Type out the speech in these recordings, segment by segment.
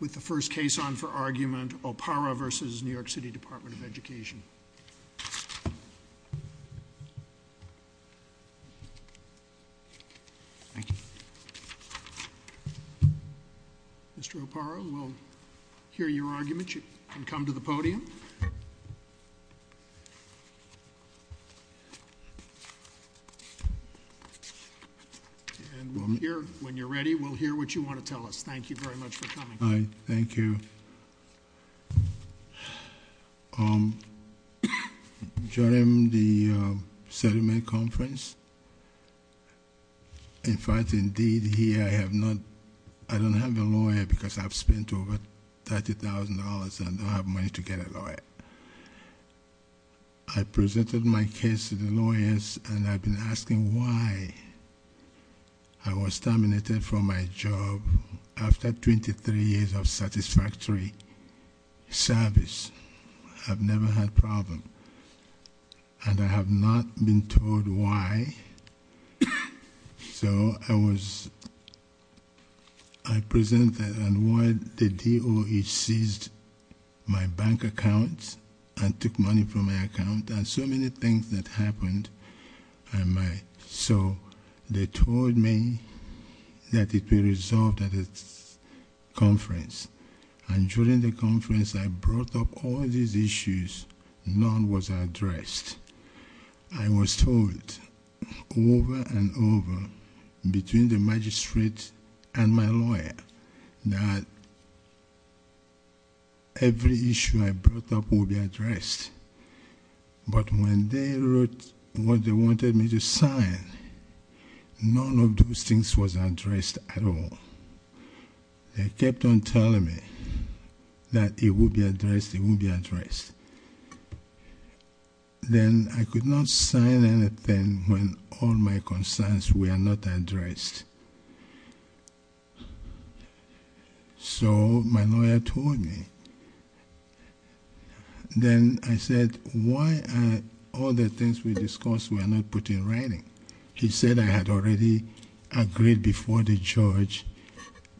With the first case on for argument, Oparah v. New York City Department of Education. Thank you. Mr. Oparah, we'll hear your argument. You can come to the podium. And we'll hear, when you're ready, we'll hear what you want to tell us. Thank you very much for coming. Thank you. During the settlement conference, in fact, indeed, here I have not, I don't have a lawyer because I've spent over $30,000 and I don't have money to get a lawyer. I presented my case to the lawyers and I've been asking why I was terminated from my job. After 23 years of satisfactory service, I've never had a problem. And I have not been told why. So I was, I presented and while the DOE seized my bank account and took money from my account and so many things that happened. And my, so they told me that it will be resolved at a conference. And during the conference, I brought up all these issues, none was addressed. I was told over and over between the magistrate and my lawyer that every issue I brought up will be addressed. But when they wrote what they wanted me to sign, none of those things was addressed at all. They kept on telling me that it will be addressed, it won't be addressed. Then I could not sign anything when all my concerns were not addressed. So my lawyer told me, then I said, why are all the things we discussed were not put in writing? He said I had already agreed before the judge,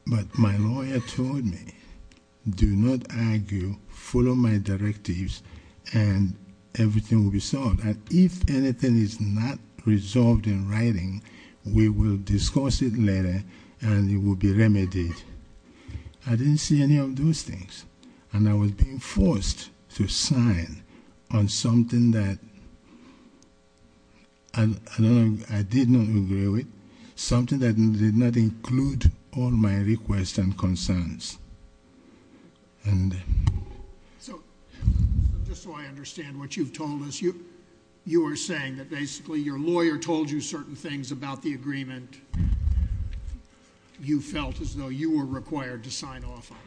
but my lawyer told me, do not argue, follow my directives, and everything will be solved. And if anything is not resolved in writing, we will discuss it later, and it will be remedied. I didn't see any of those things, and I was being forced to sign on something that, I don't know, I did not agree with, something that did not include all my requests and concerns. And- So just so I understand what you've told us, you were saying that basically your lawyer told you certain things about the agreement. You felt as though you were required to sign off on it.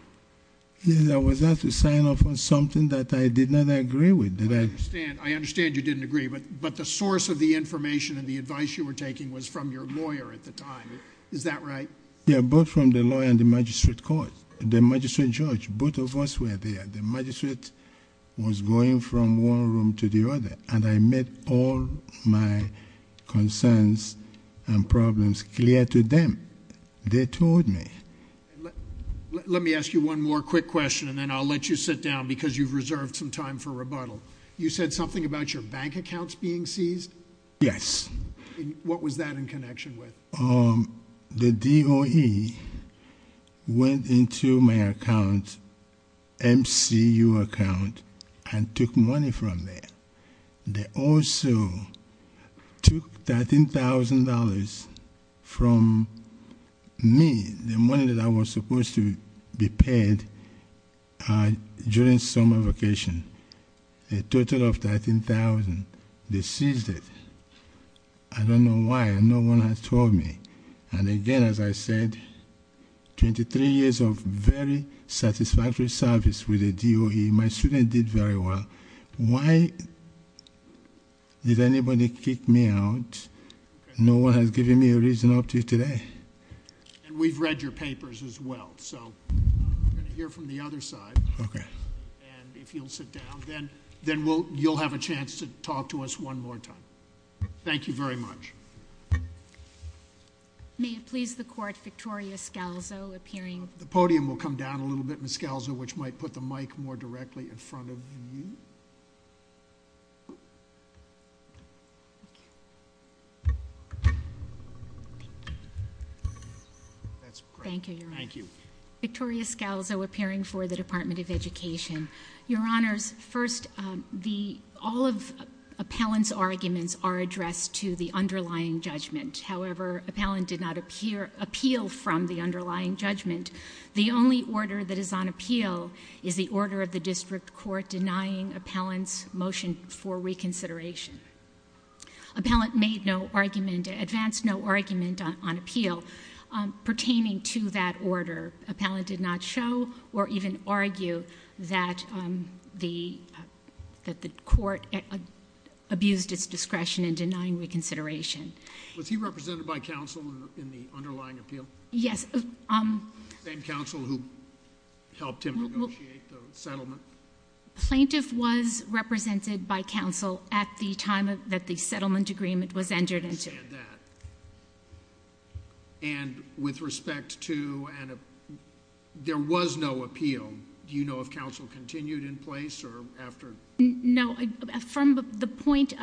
Yes, I was asked to sign off on something that I did not agree with. Did I- I understand you didn't agree, but the source of the information and the advice you were taking was from your lawyer at the time, is that right? Yeah, both from the lawyer and the magistrate court. The magistrate judge, both of us were there. The magistrate was going from one room to the other, and I made all my concerns and problems clear to them. They told me. Let me ask you one more quick question, and then I'll let you sit down, because you've reserved some time for rebuttal. You said something about your bank accounts being seized? Yes. What was that in connection with? The DOE went into my account, MCU account, and took money from there. They also took $13,000 from me, the money that I was supposed to be paid during summer vacation. A total of $13,000, they seized it. I don't know why, and no one has told me. And again, as I said, 23 years of very satisfactory service with the DOE. My student did very well. Why did anybody kick me out? No one has given me a reason up to today. And we've read your papers as well, so we're going to hear from the other side. Okay. And if you'll sit down, then you'll have a chance to talk to us one more time. Thank you very much. May it please the court, Victoria Scalzo, appearing- The podium will come down a little bit, Ms. Scalzo, which might put the mic more directly in front of you. That's great. Thank you, Your Honor. Thank you. Victoria Scalzo, appearing for the Department of Education. Your Honors, first, all of Appellant's arguments are addressed to the underlying judgment. However, Appellant did not appeal from the underlying judgment. The only order that is on appeal is the order of the district court denying Appellant's motion for reconsideration. Appellant made no argument, advanced no argument on appeal pertaining to that order. Appellant did not show or even argue that the court abused its discretion in denying reconsideration. Was he represented by counsel in the underlying appeal? Yes. Same counsel who helped him negotiate the settlement? Plaintiff was represented by counsel at the time that the settlement agreement was entered into. I understand that. And with respect to, there was no appeal. Do you know if counsel continued in place or after? No, from the point,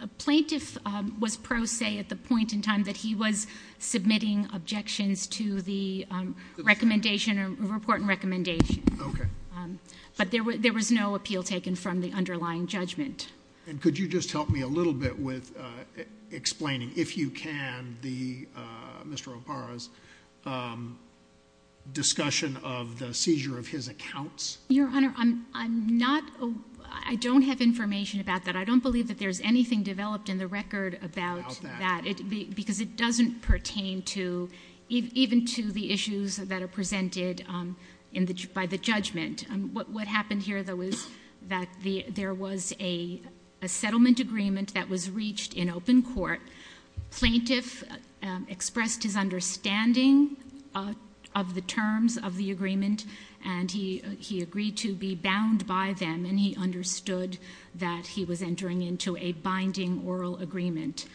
a plaintiff was pro se at the point in time that he was submitting objections to the recommendation, report and recommendation. Okay. But there was no appeal taken from the underlying judgment. And could you just help me a little bit with explaining, if you can, the Mr. Opara's discussion of the seizure of his accounts? Your Honor, I'm not, I don't have information about that. I don't believe that there's anything developed in the record about that. Because it doesn't pertain to, even to the issues that are presented by the judgment. What happened here, though, is that there was a settlement agreement that was reached in open court. Plaintiff expressed his understanding of the terms of the agreement. And he agreed to be bound by them. And he understood that he was entering into a binding oral agreement.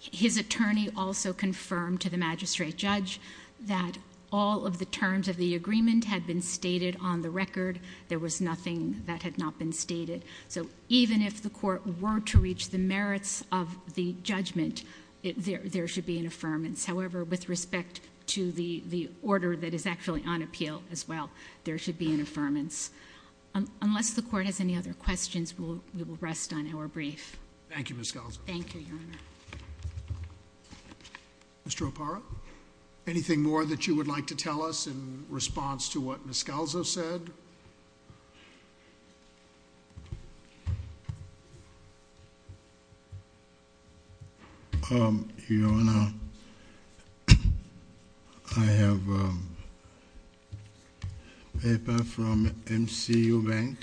His attorney also confirmed to the magistrate judge that all of the terms of the agreement had been stated on the record. There was nothing that had not been stated. So even if the court were to reach the merits of the judgment, there should be an affirmance. However, with respect to the order that is actually on appeal as well, there should be an affirmance. Unless the court has any other questions, we will rest on our brief. Thank you, Ms. Galzo. Thank you, Your Honor. Mr. Opara, anything more that you would like to tell us in response to what Ms. Galzo said? Your Honor, I have a paper from MCU Bank.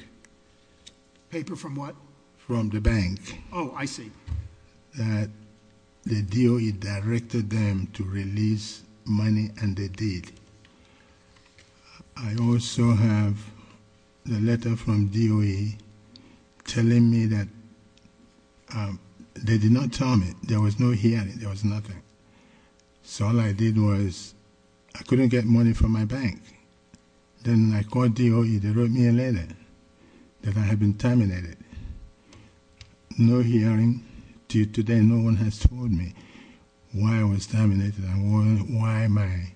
Paper from what? From the bank. I see. That the DOE directed them to release money, and they did. I also have the letter from DOE telling me that they did not tell me, there was no hearing, there was nothing. So all I did was, I couldn't get money from my bank. Then I called DOE, they wrote me a letter that I had been terminated. No hearing, till today, no one has told me why I was terminated and why my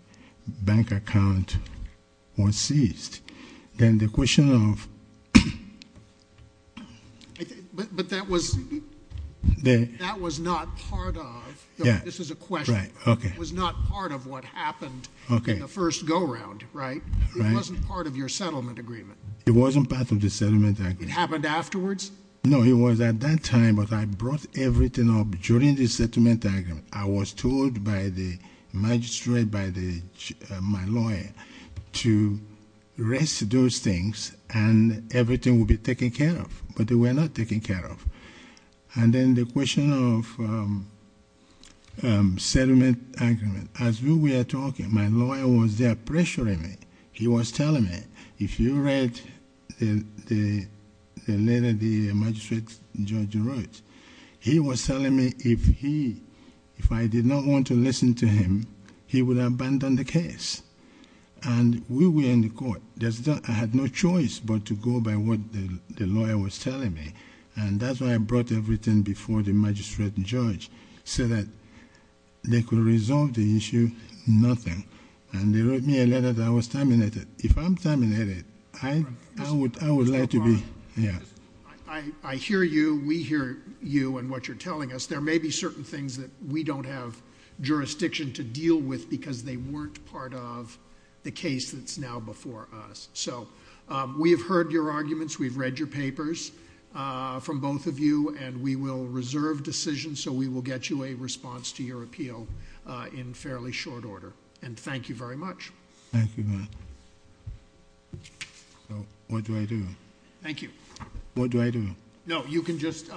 bank account was seized. Then the question of- But that was not part of- Yeah. This is a question. Right, okay. It was not part of what happened in the first go around, right? It wasn't part of your settlement agreement. It wasn't part of the settlement agreement. It happened afterwards? No, it was at that time, but I brought everything up during the settlement agreement. I was told by the magistrate, by my lawyer, to rest those things and everything will be taken care of. But they were not taken care of. And then the question of settlement agreement. As we were talking, my lawyer was there pressuring me. He was telling me, if you read the letter the magistrate, Judge wrote, he was telling me if I did not want to listen to him, he would abandon the case, and we were in the court. I had no choice but to go by what the lawyer was telling me, and that's why I brought everything before the magistrate and judge, so that they could resolve the issue, nothing. And they wrote me a letter that I was terminated. If I'm terminated, I would like to be- I hear you, we hear you and what you're telling us. There may be certain things that we don't have jurisdiction to deal with, because they weren't part of the case that's now before us. So we have heard your arguments. We've read your papers from both of you, and we will reserve decisions so we will get you a response to your appeal in fairly short order. And thank you very much. Thank you, Matt. So what do I do? Thank you. What do I do? No, you can just,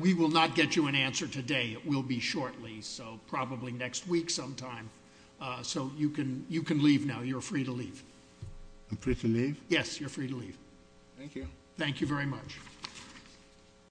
we will not get you an answer today. It will be shortly, so probably next week sometime. So you can leave now, you're free to leave. I'm free to leave? Yes, you're free to leave. Thank you. Thank you very much.